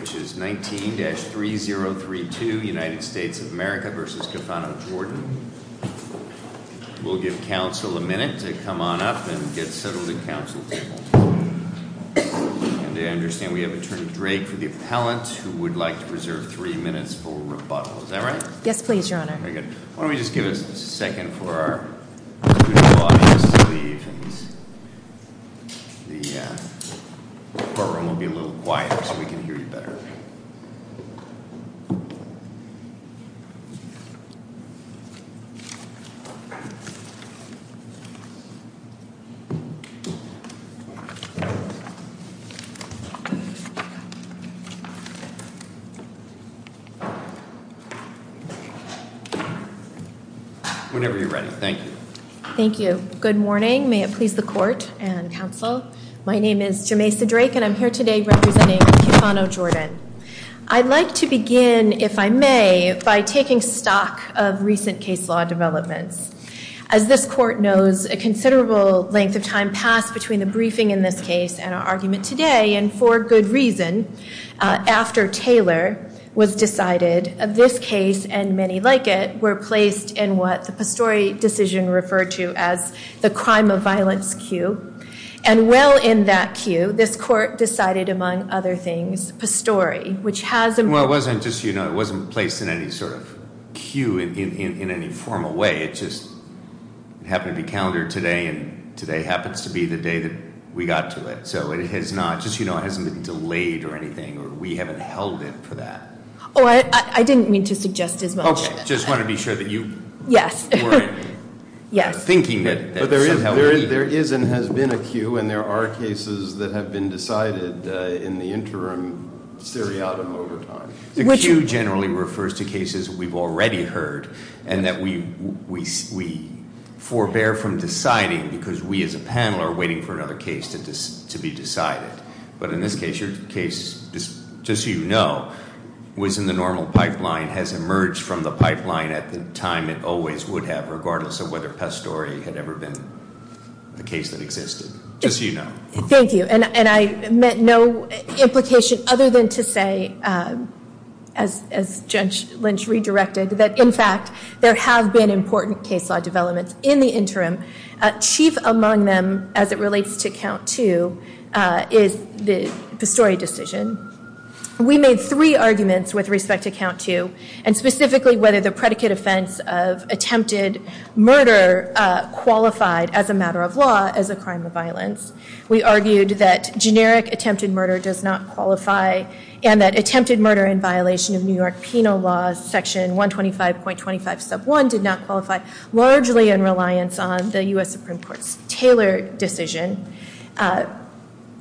which is 19-3032, United States of America v. Cofano, Jordan. We'll give counsel a minute to come on up and get settled at the council table. And I understand we have Attorney Drake for the appellant who would like to preserve three minutes for rebuttal, is that right? Yes, please, your honor. Very good. Why don't we just give us a second for our Whenever you're ready, thank you. Thank you. Good morning. May it please the court and counsel. My name is Jamesa Drake and I'm here today representing Cofano, Jordan. I'd like to begin, if I may, by taking stock of recent case law developments. As this court knows, a considerable length of time passed between the briefing in this case and our argument today and for good reason. After Taylor was decided, this case and many like it were placed in what the Pastore decision referred to as the crime of violence queue. And well in that queue, this court decided, among other things, Pastore, which has- Well, it wasn't placed in any sort of queue in any formal way. It just happened to be calendared today and today happens to be the day that we got to it. So it has not, just so you know, it hasn't been delayed or anything. We haven't held it for that. I didn't mean to suggest as much. Just wanted to be sure that you weren't thinking that- There is and has been a queue and there are cases that have been decided in the interim seriatim overtime. The queue generally refers to cases we've already heard and that we forbear from deciding because we as a panel are waiting for another case to be decided. But in this case, your case, just so you know, was in the normal pipeline, has emerged from the pipeline at the time it always would have, regardless of whether Pastore had ever been a case that existed. Just so you know. Thank you. And I meant no implication other than to say, as Judge Lynch redirected, that in fact there have been important case law developments in the interim. Chief among them, as it relates to count two, is the Pastore decision. We made three arguments with respect to count two, and specifically whether the predicate offense of attempted murder qualified as a matter of law as a crime of violence. We argued that generic attempted murder does not qualify, and that attempted murder in violation of New York penal laws, section 125.25 sub 1, did not qualify, largely in reliance on the US Supreme Court's Taylor decision.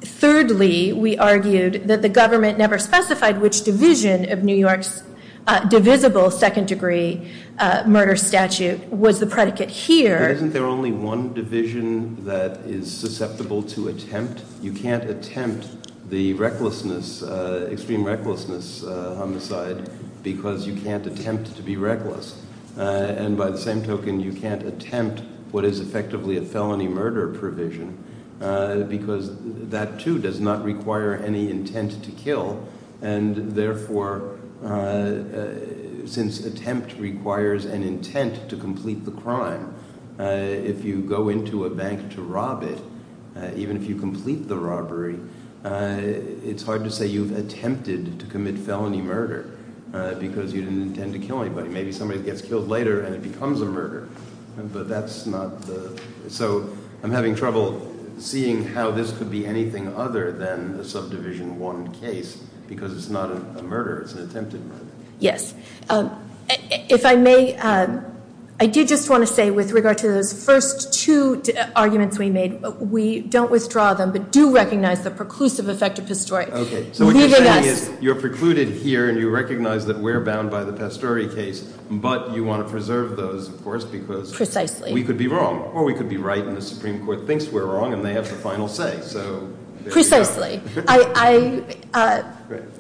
Thirdly, we argued that the government never specified which division of New York's divisible second degree murder statute was the predicate here. Isn't there only one division that is susceptible to attempt? You can't attempt the recklessness, extreme recklessness homicide, because you can't attempt to be reckless. And by the same token, you can't attempt what is effectively a felony murder provision, because that, too, does not require any intent to kill. And therefore, since attempt requires an intent to complete the crime, if you go into a bank to rob it, even if you complete the robbery, it's hard to say you've attempted to commit felony murder because you didn't intend to kill anybody. Maybe somebody gets killed later and it becomes a murder. But that's not the, so I'm having trouble seeing how this could be anything other than a subdivision one case, because it's not a murder, it's an attempted murder. Yes. If I may, I did just want to say with regard to those first two arguments we made, we don't withdraw them, but do recognize the preclusive effect of pastore. Okay. So what you're saying is you're precluded here and you recognize that we're bound by the pastore case, but you want to preserve those, of course, because- Precisely. We could be wrong, or we could be right and the Supreme Court thinks we're wrong and they have the final say. Precisely. I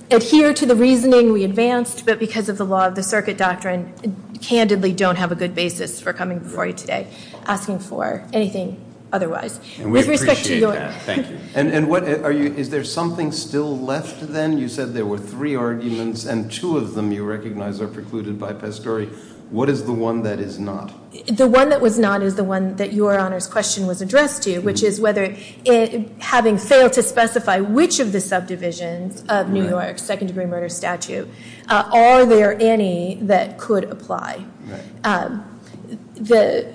adhere to the reasoning we advanced, but because of the law of the circuit doctrine, candidly don't have a good basis for coming before you today asking for anything otherwise. And we appreciate that. With respect to your- Thank you. And what, are you, is there something still left then? You said there were three arguments and two of them you recognize are precluded by pastore. What is the one that is not? The one that was not is the one that your Honor's question was addressed to, which is whether, having failed to specify which of the subdivisions of New York, second degree murder statute, are there any that could apply? Right. The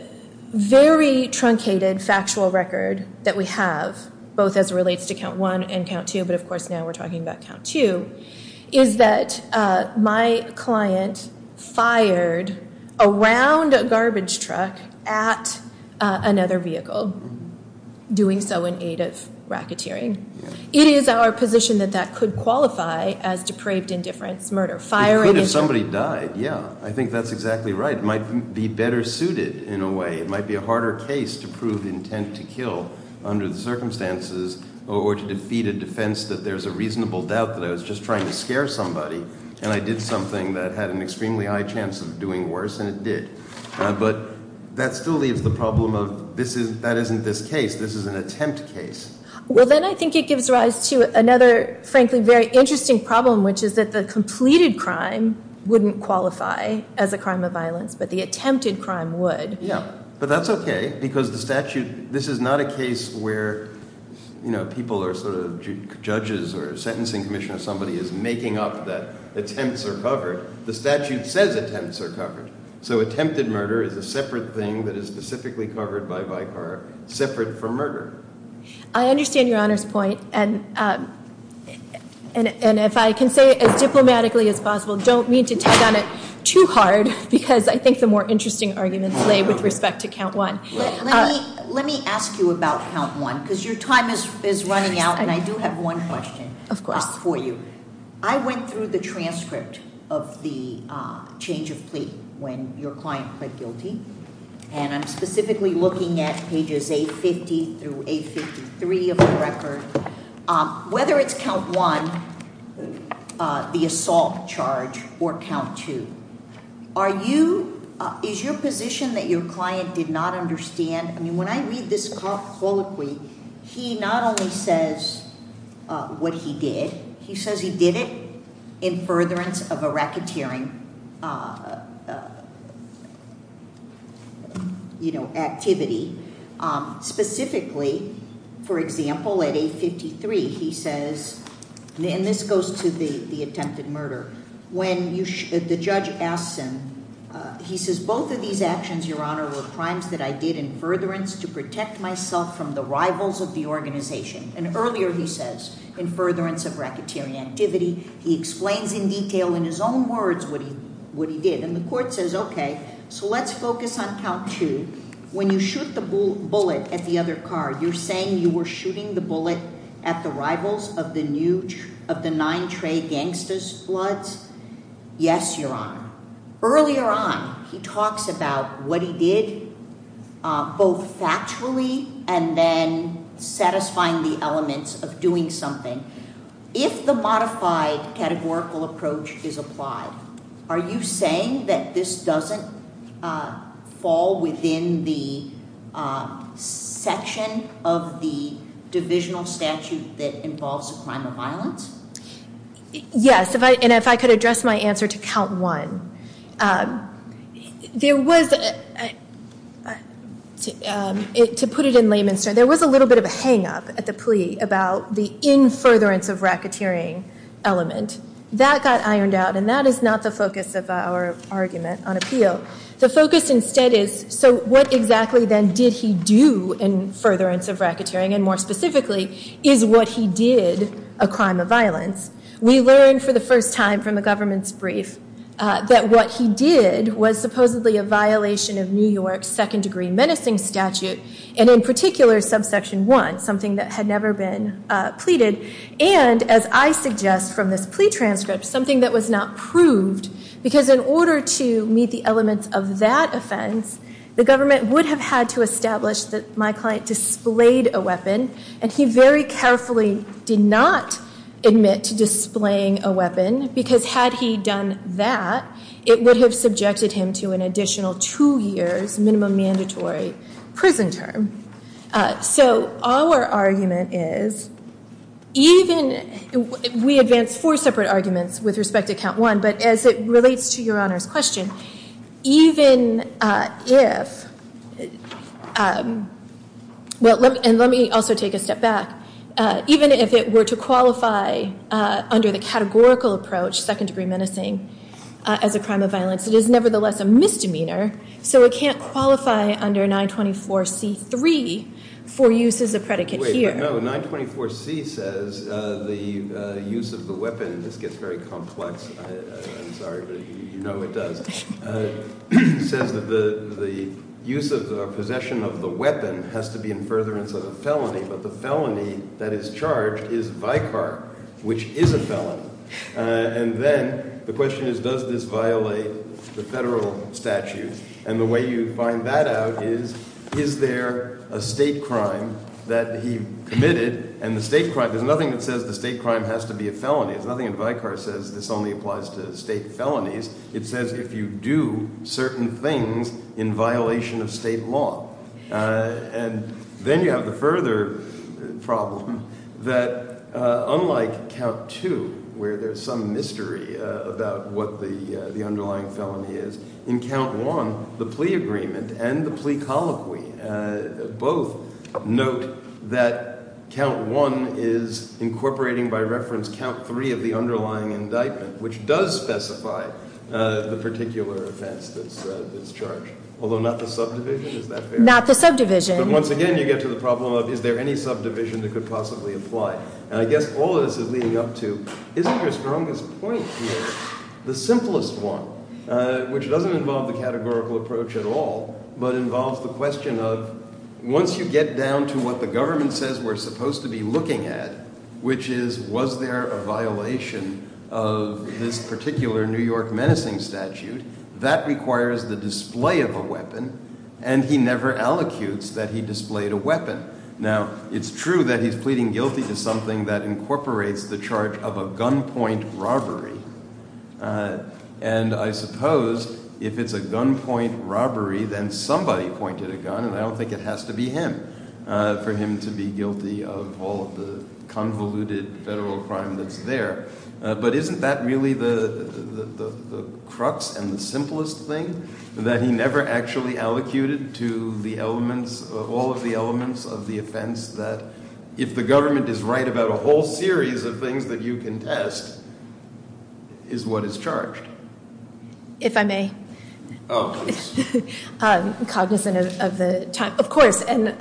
very truncated factual record that we have, both as it relates to count one and count two, but of course now we're talking about count two, is that my client fired a round garbage truck at another vehicle, doing so in aid of racketeering. It is our position that that could qualify as depraved indifference murder. It could if somebody died, yeah. I think that's exactly right. It might be better suited in a way. It might be a harder case to prove intent to kill under the circumstances or to defeat a defense that there's a reasonable doubt that I was just trying to scare somebody and I did something that had an extremely high chance of doing worse and it did. But that still leaves the problem of this is, that isn't this case. This is an attempt case. Well, then I think it gives rise to another, frankly, very interesting problem, which is that the completed crime wouldn't qualify as a crime of violence, but the attempted crime would. Yeah, but that's okay, because the statute, this is not a case where people are sort of, judges or a sentencing commission or somebody is making up that attempts are covered. The statute says attempts are covered. So attempted murder is a separate thing that is specifically covered by Vicar, separate from murder. I understand your Honor's point, and if I can say it as diplomatically as possible, don't mean to tag on it too hard, because I think the more interesting arguments lay with respect to count one. Let me ask you about count one, because your time is running out, and I do have one question for you. Of course. I went through the transcript of the change of plea when your client pled guilty, and I'm specifically looking at pages 850 through 853 of the record. Whether it's count one, the assault charge, or count two, are you, is your position that your client did not understand? I mean, when I read this colloquy, he not only says what he did, he says he did it in furtherance of a racketeering activity. Specifically, for example, at 853, he says, and this goes to the attempted murder. The judge asks him, he says, both of these actions, your Honor, were crimes that I did in furtherance to protect myself from the rivals of the organization. And earlier, he says, in furtherance of racketeering activity, he explains in detail in his own words what he did. And the court says, okay, so let's focus on count two. When you shoot the bullet at the other car, you're saying you were shooting the bullet at the rivals of the nine trade gangsters' floods? Yes, your Honor. Earlier on, he talks about what he did, both factually and then satisfying the elements of doing something. If the modified categorical approach is applied, are you saying that this doesn't fall within the section of the divisional statute that involves a crime of violence? Yes, and if I could address my answer to count one, there was, to put it in layman's terms, there was a little bit of a hang-up at the plea about the in furtherance of racketeering element. That got ironed out, and that is not the focus of our argument on appeal. The focus instead is, so what exactly then did he do in furtherance of racketeering, and more specifically, is what he did a crime of violence? We learned for the first time from the government's brief that what he did was supposedly a violation of New York's second-degree menacing statute, and in particular subsection one, something that had never been pleaded, and as I suggest from this plea transcript, something that was not proved. Because in order to meet the elements of that offense, the government would have had to establish that my client displayed a weapon, and he very carefully did not admit to displaying a weapon, because had he done that, it would have subjected him to an additional two years minimum mandatory prison term. So our argument is, we advance four separate arguments with respect to count one, but as it relates to your Honor's question, even if, and let me also take a step back, even if it were to qualify under the categorical approach, second-degree menacing as a crime of violence, it is nevertheless a misdemeanor, so it can't qualify under 924C3 for use as a predicate here. Wait, no, 924C says the use of the weapon – this gets very complex, I'm sorry, but you know it does – says that the use of or possession of the weapon has to be in furtherance of a felony, but the felony that is charged is vicar, which is a felony. And then the question is, does this violate the federal statute? And the way you find that out is, is there a state crime that he committed, and the state crime – there's nothing that says the state crime has to be a felony. There's nothing in vicar that says this only applies to state felonies. It says if you do certain things in violation of state law. And then you have the further problem that unlike Count 2, where there's some mystery about what the underlying felony is, in Count 1, the plea agreement and the plea colloquy both note that Count 1 is incorporating by reference Count 3 of the underlying indictment, which does specify the particular offense that's charged, although not the subdivision, is that fair? Not the subdivision. But once again, you get to the problem of is there any subdivision that could possibly apply? And I guess all of this is leading up to, isn't your strongest point here the simplest one, which doesn't involve the categorical approach at all, but involves the question of once you get down to what the government says we're supposed to be looking at, which is was there a violation of this particular New York menacing statute that requires the display of a weapon, and he never allocutes that he displayed a weapon. Now, it's true that he's pleading guilty to something that incorporates the charge of a gunpoint robbery, and I suppose if it's a gunpoint robbery, then somebody pointed a gun, and I don't think it has to be him for him to be guilty of all of the convoluted federal crime that's there. But isn't that really the crux and the simplest thing, that he never actually allocated to the elements, all of the elements of the offense that if the government is right about a whole series of things that you contest, is what is charged? If I may. Oh, please. Cognizant of the time, of course, and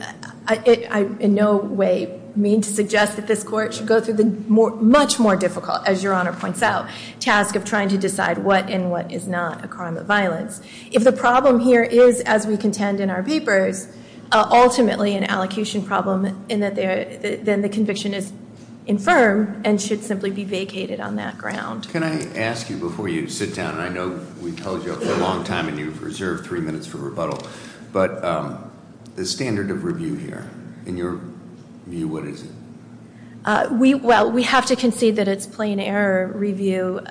I in no way mean to suggest that this court should go through the much more difficult, as your Honor points out, task of trying to decide what and what is not a crime of violence. If the problem here is, as we contend in our papers, ultimately an allocation problem, then the conviction is infirm and should simply be vacated on that ground. Can I ask you before you sit down, and I know we've held you up for a long time and you've reserved three minutes for rebuttal, but the standard of review here, in your view, what is it? Well, we have to concede that it's plain error review.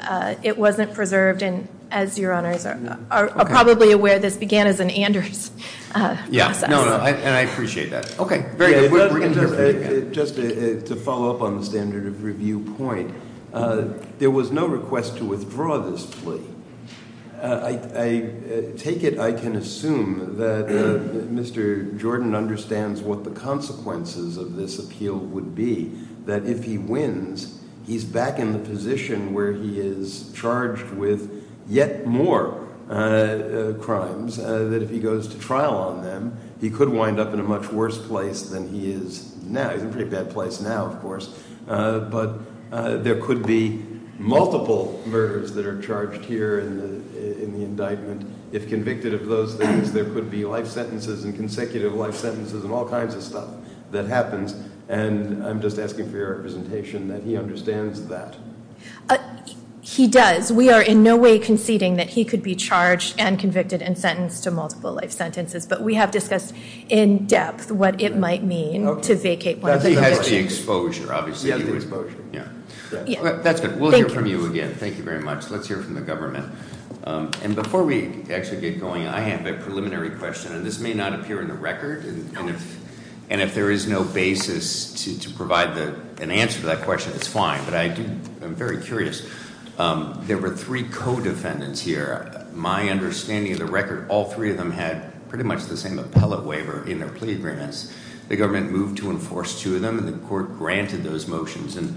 It wasn't preserved, and as your Honors are probably aware, this began as an Anders process. Yeah, no, no, and I appreciate that. Okay, very good. Just to follow up on the standard of review point, there was no request to withdraw this plea. I take it I can assume that Mr. Jordan understands what the consequences of this appeal would be, that if he wins, he's back in the position where he is charged with yet more crimes, that if he goes to trial on them, he could wind up in a much worse place than he is now. He's in a pretty bad place now, of course, but there could be multiple murders that are charged here in the indictment. If convicted of those things, there could be life sentences and consecutive life sentences and all kinds of stuff that happens, and I'm just asking for your representation that he understands that. He does. Yes, we are in no way conceding that he could be charged and convicted and sentenced to multiple life sentences, but we have discussed in depth what it might mean to vacate one of the convictions. He has the exposure, obviously. He has the exposure. Yeah. That's good. We'll hear from you again. Thank you very much. Let's hear from the government. And before we actually get going, I have a preliminary question, and this may not appear in the record, and if there is no basis to provide an answer to that question, it's fine, but I'm very curious. There were three co-defendants here. My understanding of the record, all three of them had pretty much the same appellate waiver in their plea agreements. The government moved to enforce two of them, and the court granted those motions, and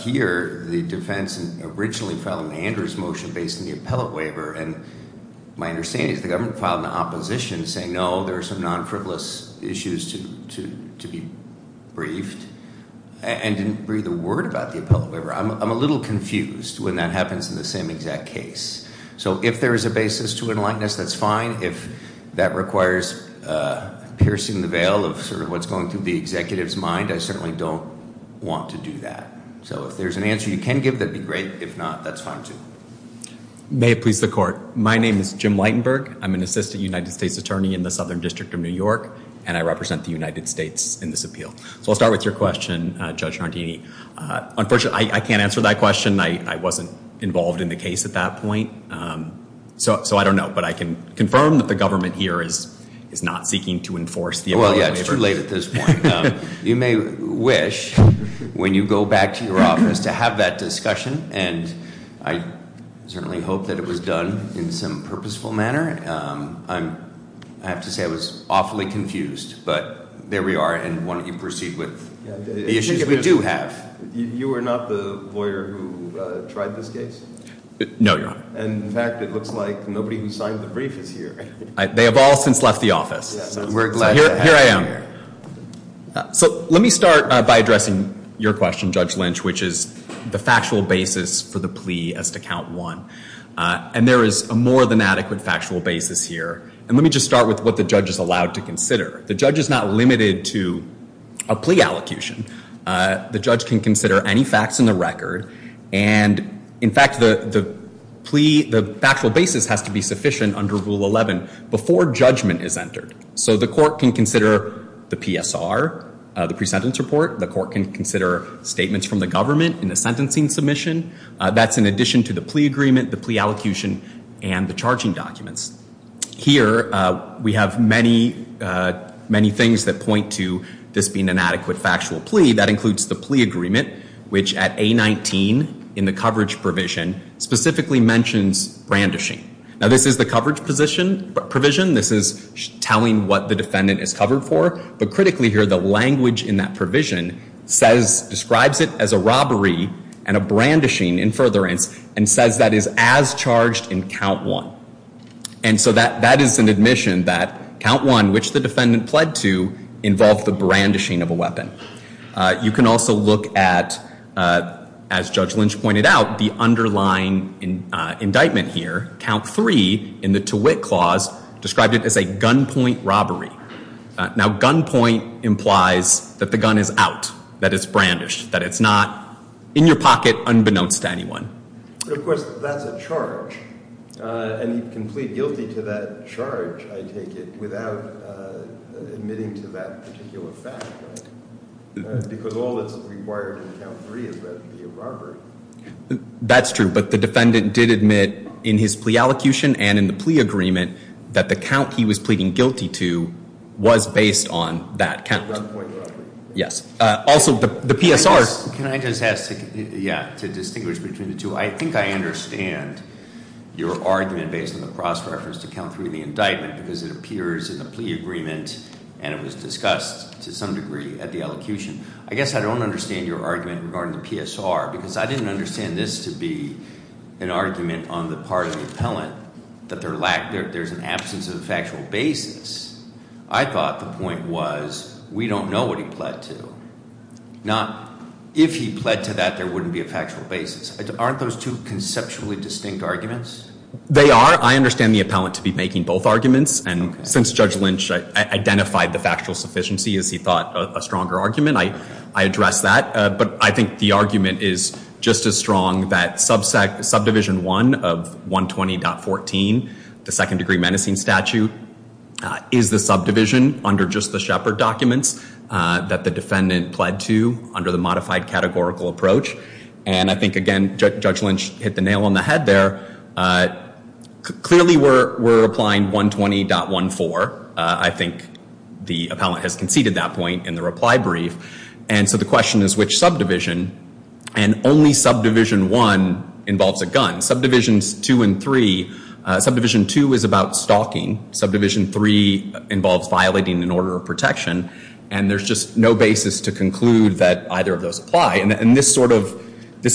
here the defense originally filed an Anders motion based on the appellate waiver, and my understanding is the government filed an opposition saying, no, there are some non-frivolous issues to be briefed, and didn't breathe a word about the appellate waiver. I'm a little confused when that happens in the same exact case. So if there is a basis to enlighten us, that's fine. If that requires piercing the veil of sort of what's going through the executive's mind, I certainly don't want to do that. So if there's an answer you can give, that'd be great. If not, that's fine too. May it please the court. My name is Jim Lightenberg. I'm an assistant United States attorney in the Southern District of New York, and I represent the United States in this appeal. So I'll start with your question, Judge Nardini. Unfortunately, I can't answer that question. I wasn't involved in the case at that point. So I don't know, but I can confirm that the government here is not seeking to enforce the appellate waiver. Well, yeah, it's too late at this point. You may wish, when you go back to your office, to have that discussion, and I certainly hope that it was done in some purposeful manner. I have to say I was awfully confused, but there we are, and why don't you proceed with the issues we do have. You are not the lawyer who tried this case? No, Your Honor. In fact, it looks like nobody who signed the brief is here. They have all since left the office. We're glad to have you here. Here I am. So let me start by addressing your question, Judge Lynch, which is the factual basis for the plea as to count one. And there is a more than adequate factual basis here. And let me just start with what the judge is allowed to consider. The judge is not limited to a plea allocution. The judge can consider any facts in the record. And, in fact, the plea, the factual basis has to be sufficient under Rule 11 before judgment is entered. So the court can consider the PSR, the pre-sentence report. The court can consider statements from the government in the sentencing submission. That's in addition to the plea agreement, the plea allocution, and the charging documents. Here we have many, many things that point to this being an adequate factual plea. That includes the plea agreement, which at A19 in the coverage provision specifically mentions brandishing. Now, this is the coverage provision. This is telling what the defendant is covered for. But critically here, the language in that provision describes it as a robbery and a brandishing in furtherance and says that it is as charged in count one. And so that is an admission that count one, which the defendant pled to, involved the brandishing of a weapon. You can also look at, as Judge Lynch pointed out, the underlying indictment here. Count three in the Tewitt Clause described it as a gunpoint robbery. Now, gunpoint implies that the gun is out, that it's brandished, that it's not in your pocket unbeknownst to anyone. But of course, that's a charge. And he can plead guilty to that charge, I take it, without admitting to that particular fact, right? Because all that's required in count three is that it be a robbery. That's true. But the defendant did admit in his plea allocution and in the plea agreement that the count he was pleading guilty to was based on that count. Yes. Also, the PSR. Can I just ask to distinguish between the two? I think I understand your argument based on the cross-reference to count three in the indictment because it appears in the plea agreement and it was discussed to some degree at the allocution. I guess I don't understand your argument regarding the PSR because I didn't understand this to be an argument on the part of the appellant that there's an absence of a factual basis. I thought the point was we don't know what he pled to. If he pled to that, there wouldn't be a factual basis. Aren't those two conceptually distinct arguments? They are. I understand the appellant to be making both arguments. And since Judge Lynch identified the factual sufficiency as he thought a stronger argument, I address that. But I think the argument is just as strong that subdivision one of 120.14, the second degree menacing statute, is the subdivision under just the Shepard documents that the defendant pled to under the modified categorical approach. And I think, again, Judge Lynch hit the nail on the head there. Clearly, we're applying 120.14. I think the appellant has conceded that point in the reply brief. And so the question is which subdivision? And only subdivision one involves a gun. Subdivisions two and three, subdivision two is about stalking. Subdivision three involves violating an order of protection. And there's just no basis to conclude that either of those apply. And this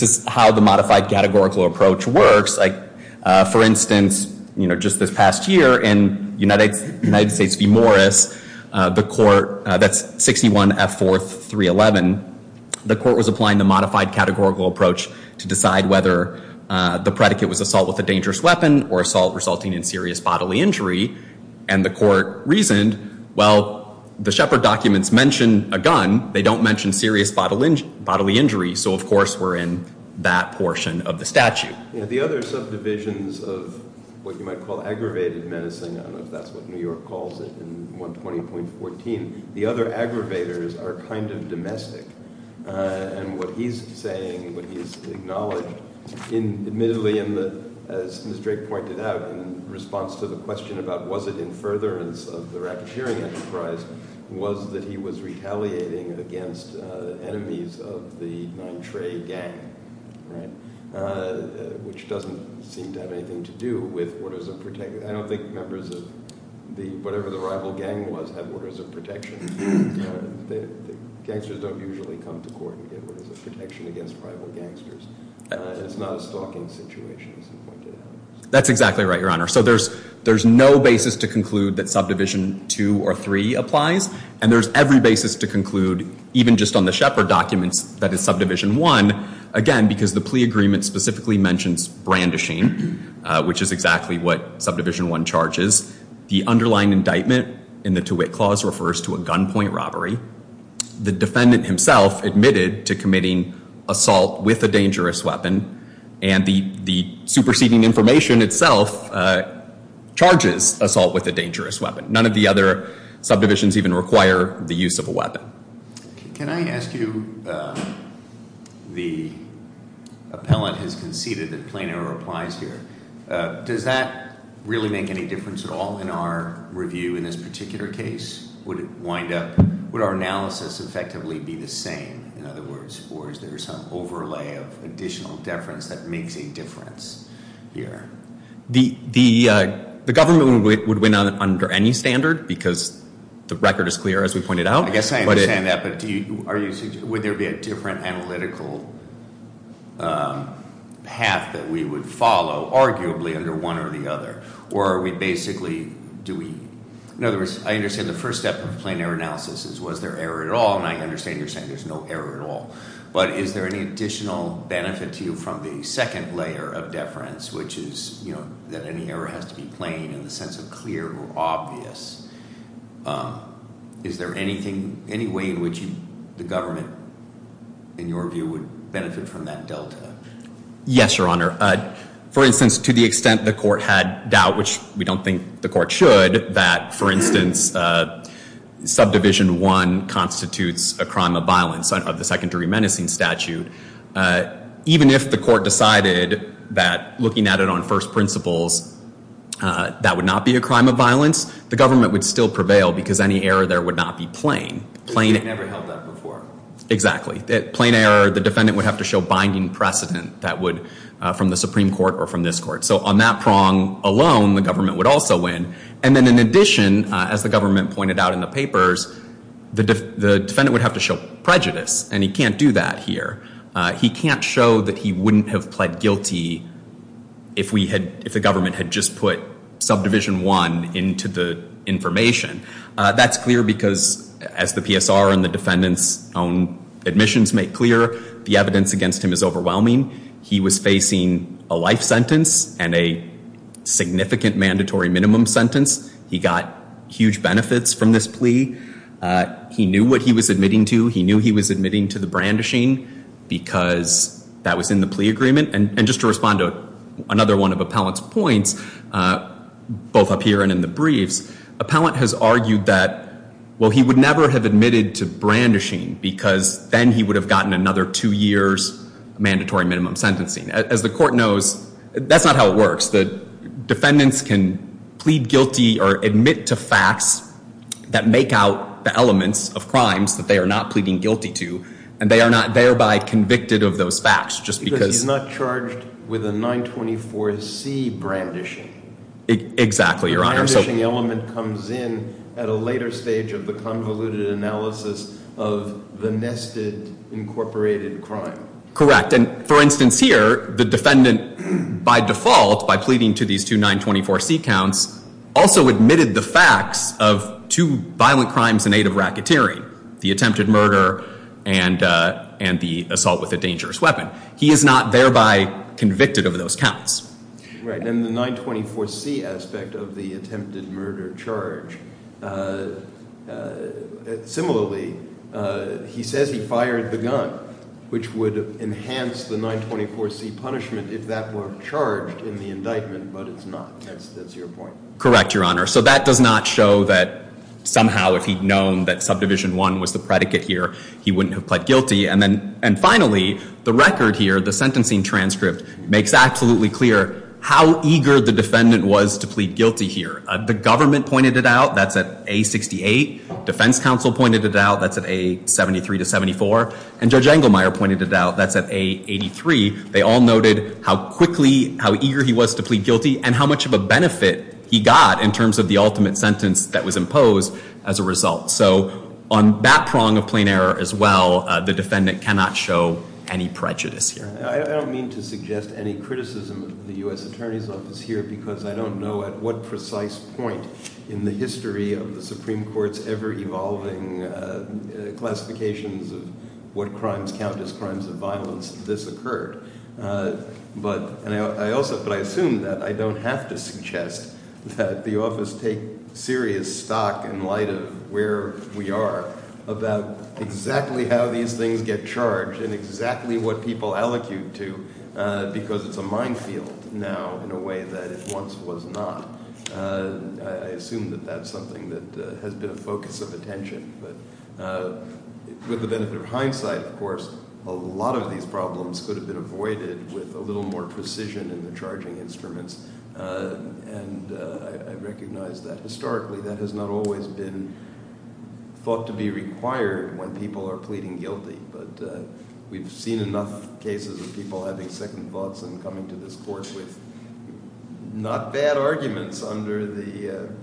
is how the modified categorical approach works. For instance, just this past year in United States v. Morris, the court, that's 61F4-311, the court was applying the modified categorical approach to decide whether the predicate was assault with a dangerous weapon or assault resulting in serious bodily injury. And the court reasoned, well, the Shepard documents mention a gun. They don't mention serious bodily injury. So, of course, we're in that portion of the statute. The other subdivisions of what you might call aggravated menacing, I don't know if that's what New York calls it in 120.14, the other aggravators are kind of domestic. And what he's saying, what he's acknowledged, admittedly, as Ms. Drake pointed out, in response to the question about was it in furtherance of the rappeteering enterprise, was that he was retaliating against enemies of the Nintre gang. Which doesn't seem to have anything to do with orders of protection. I don't think members of whatever the rival gang was have orders of protection. Gangsters don't usually come to court and get orders of protection against rival gangsters. It's not a stalking situation, as he pointed out. That's exactly right, Your Honor. So there's no basis to conclude that subdivision 2 or 3 applies. And there's every basis to conclude, even just on the Shepard documents, that it's subdivision 1. Again, because the plea agreement specifically mentions brandishing, which is exactly what subdivision 1 charges. The underlying indictment in the Tewitt Clause refers to a gunpoint robbery. The defendant himself admitted to committing assault with a dangerous weapon. And the superseding information itself charges assault with a dangerous weapon. None of the other subdivisions even require the use of a weapon. Can I ask you, the appellant has conceded that plain error applies here. Does that really make any difference at all in our review in this particular case? Would it wind up, would our analysis effectively be the same, in other words? Or is there some overlay of additional deference that makes a difference here? The government would win under any standard, because the record is clear, as we pointed out. I guess I understand that, but would there be a different analytical path that we would follow, arguably, under one or the other? Or are we basically, do we, in other words, I understand the first step of plain error analysis is was there error at all? And I understand you're saying there's no error at all. But is there any additional benefit to you from the second layer of deference, which is that any error has to be plain in the sense of clear or obvious? Is there anything, any way in which the government, in your view, would benefit from that delta? Yes, Your Honor. For instance, to the extent the court had doubt, which we don't think the court should, that, for instance, subdivision one constitutes a crime of violence of the secondary menacing statute. Even if the court decided that, looking at it on first principles, that would not be a crime of violence, the government would still prevail because any error there would not be plain. It never held that before. Exactly. Plain error, the defendant would have to show binding precedent that would, from the Supreme Court or from this court. So on that prong alone, the government would also win. And then in addition, as the government pointed out in the papers, the defendant would have to show prejudice. And he can't do that here. He can't show that he wouldn't have pled guilty if we had, if the government had just put subdivision one into the information. That's clear because, as the PSR and the defendant's own admissions make clear, the evidence against him is overwhelming. He was facing a life sentence and a significant mandatory minimum sentence. He got huge benefits from this plea. He knew what he was admitting to. He knew he was admitting to the brandishing because that was in the plea agreement. And just to respond to another one of Appellant's points, both up here and in the briefs, Appellant has argued that, well, he would never have admitted to brandishing because then he would have gotten another two years mandatory minimum sentencing. As the court knows, that's not how it works. Defendants can plead guilty or admit to facts that make out the elements of crimes that they are not pleading guilty to, and they are not thereby convicted of those facts just because- Because he's not charged with a 924C brandishing. Exactly, Your Honor. The brandishing element comes in at a later stage of the convoluted analysis of the nested incorporated crime. Correct. And, for instance, here, the defendant, by default, by pleading to these two 924C counts, also admitted the facts of two violent crimes in aid of racketeering, the attempted murder and the assault with a dangerous weapon. He is not thereby convicted of those counts. Right. And the 924C aspect of the attempted murder charge, similarly, he says he fired the gun, which would enhance the 924C punishment if that were charged in the indictment, but it's not. That's your point. Correct, Your Honor. So that does not show that somehow if he'd known that Subdivision I was the predicate here, he wouldn't have pled guilty. And finally, the record here, the sentencing transcript, makes absolutely clear how eager the defendant was to plead guilty here. The government pointed it out. That's at A68. Defense counsel pointed it out. That's at A73 to 74. And Judge Engelmeyer pointed it out. That's at A83. They all noted how quickly, how eager he was to plead guilty and how much of a benefit he got in terms of the ultimate sentence that was imposed as a result. So on that prong of plain error as well, the defendant cannot show any prejudice here. I don't mean to suggest any criticism of the U.S. Attorney's Office here because I don't know at what precise point in the history of the Supreme Court's ever-evolving classifications of what crimes count as crimes of violence that this occurred. But I also – but I assume that I don't have to suggest that the office take serious stock in light of where we are about exactly how these things get charged and exactly what people allocute to because it's a minefield now in a way that it once was not. I assume that that's something that has been a focus of attention. But with the benefit of hindsight, of course, a lot of these problems could have been avoided with a little more precision in the charging instruments. And I recognize that historically that has not always been thought to be required when people are pleading guilty. But we've seen enough cases of people having second thoughts and coming to this court with not bad arguments under the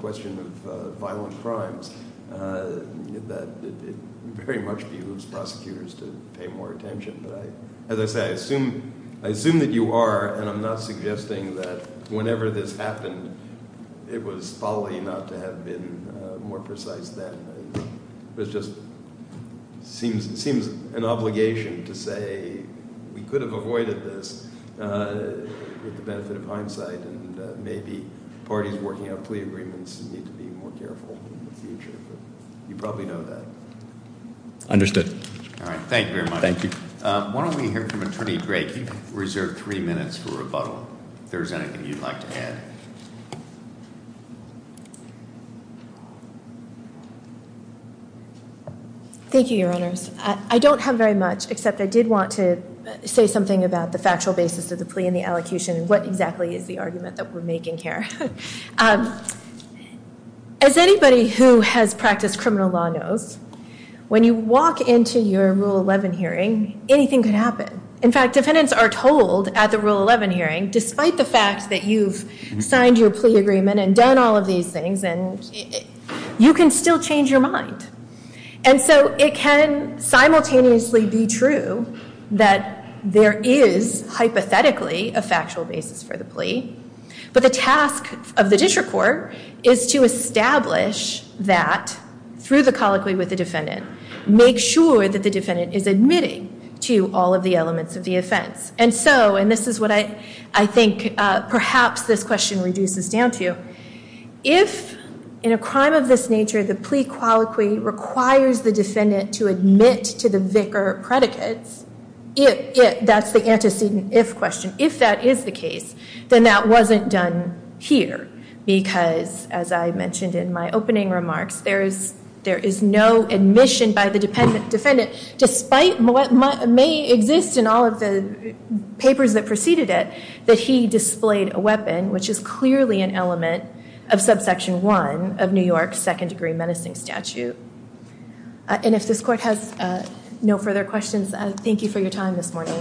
question of violent crimes that it very much behooves prosecutors to pay more attention. But as I say, I assume that you are and I'm not suggesting that whenever this happened it was folly not to have been more precise then. It just seems an obligation to say we could have avoided this with the benefit of hindsight and maybe parties working out plea agreements need to be more careful in the future. But you probably know that. Understood. Thank you very much. Thank you. Why don't we hear from Attorney Drake. You've reserved three minutes for rebuttal. If there's anything you'd like to add. Thank you, Your Honors. I don't have very much except I did want to say something about the factual basis of the plea and the allocution and what exactly is the argument that we're making here. As anybody who has practiced criminal law knows, when you walk into your Rule 11 hearing, anything can happen. In fact, defendants are told at the Rule 11 hearing, despite the fact that you've signed your plea agreement and done all of these things, you can still change your mind. And so it can simultaneously be true that there is hypothetically a factual basis for the plea. But the task of the district court is to establish that through the colloquy with the defendant. Make sure that the defendant is admitting to all of the elements of the offense. And so, and this is what I think perhaps this question reduces down to, if in a crime of this nature, the plea colloquy requires the defendant to admit to the vicar predicates, if that's the antecedent if question, if that is the case, then that wasn't done here. Because, as I mentioned in my opening remarks, there is no admission by the defendant, despite what may exist in all of the papers that preceded it, that he displayed a weapon, which is clearly an element of subsection one of New York's second degree menacing statute. And if this court has no further questions, thank you for your time this morning.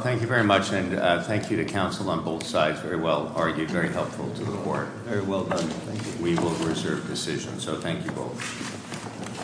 Thank you very much, and thank you to counsel on both sides. Very well argued, very helpful to the court. Very well done. Thank you. We will reserve decisions, so thank you both.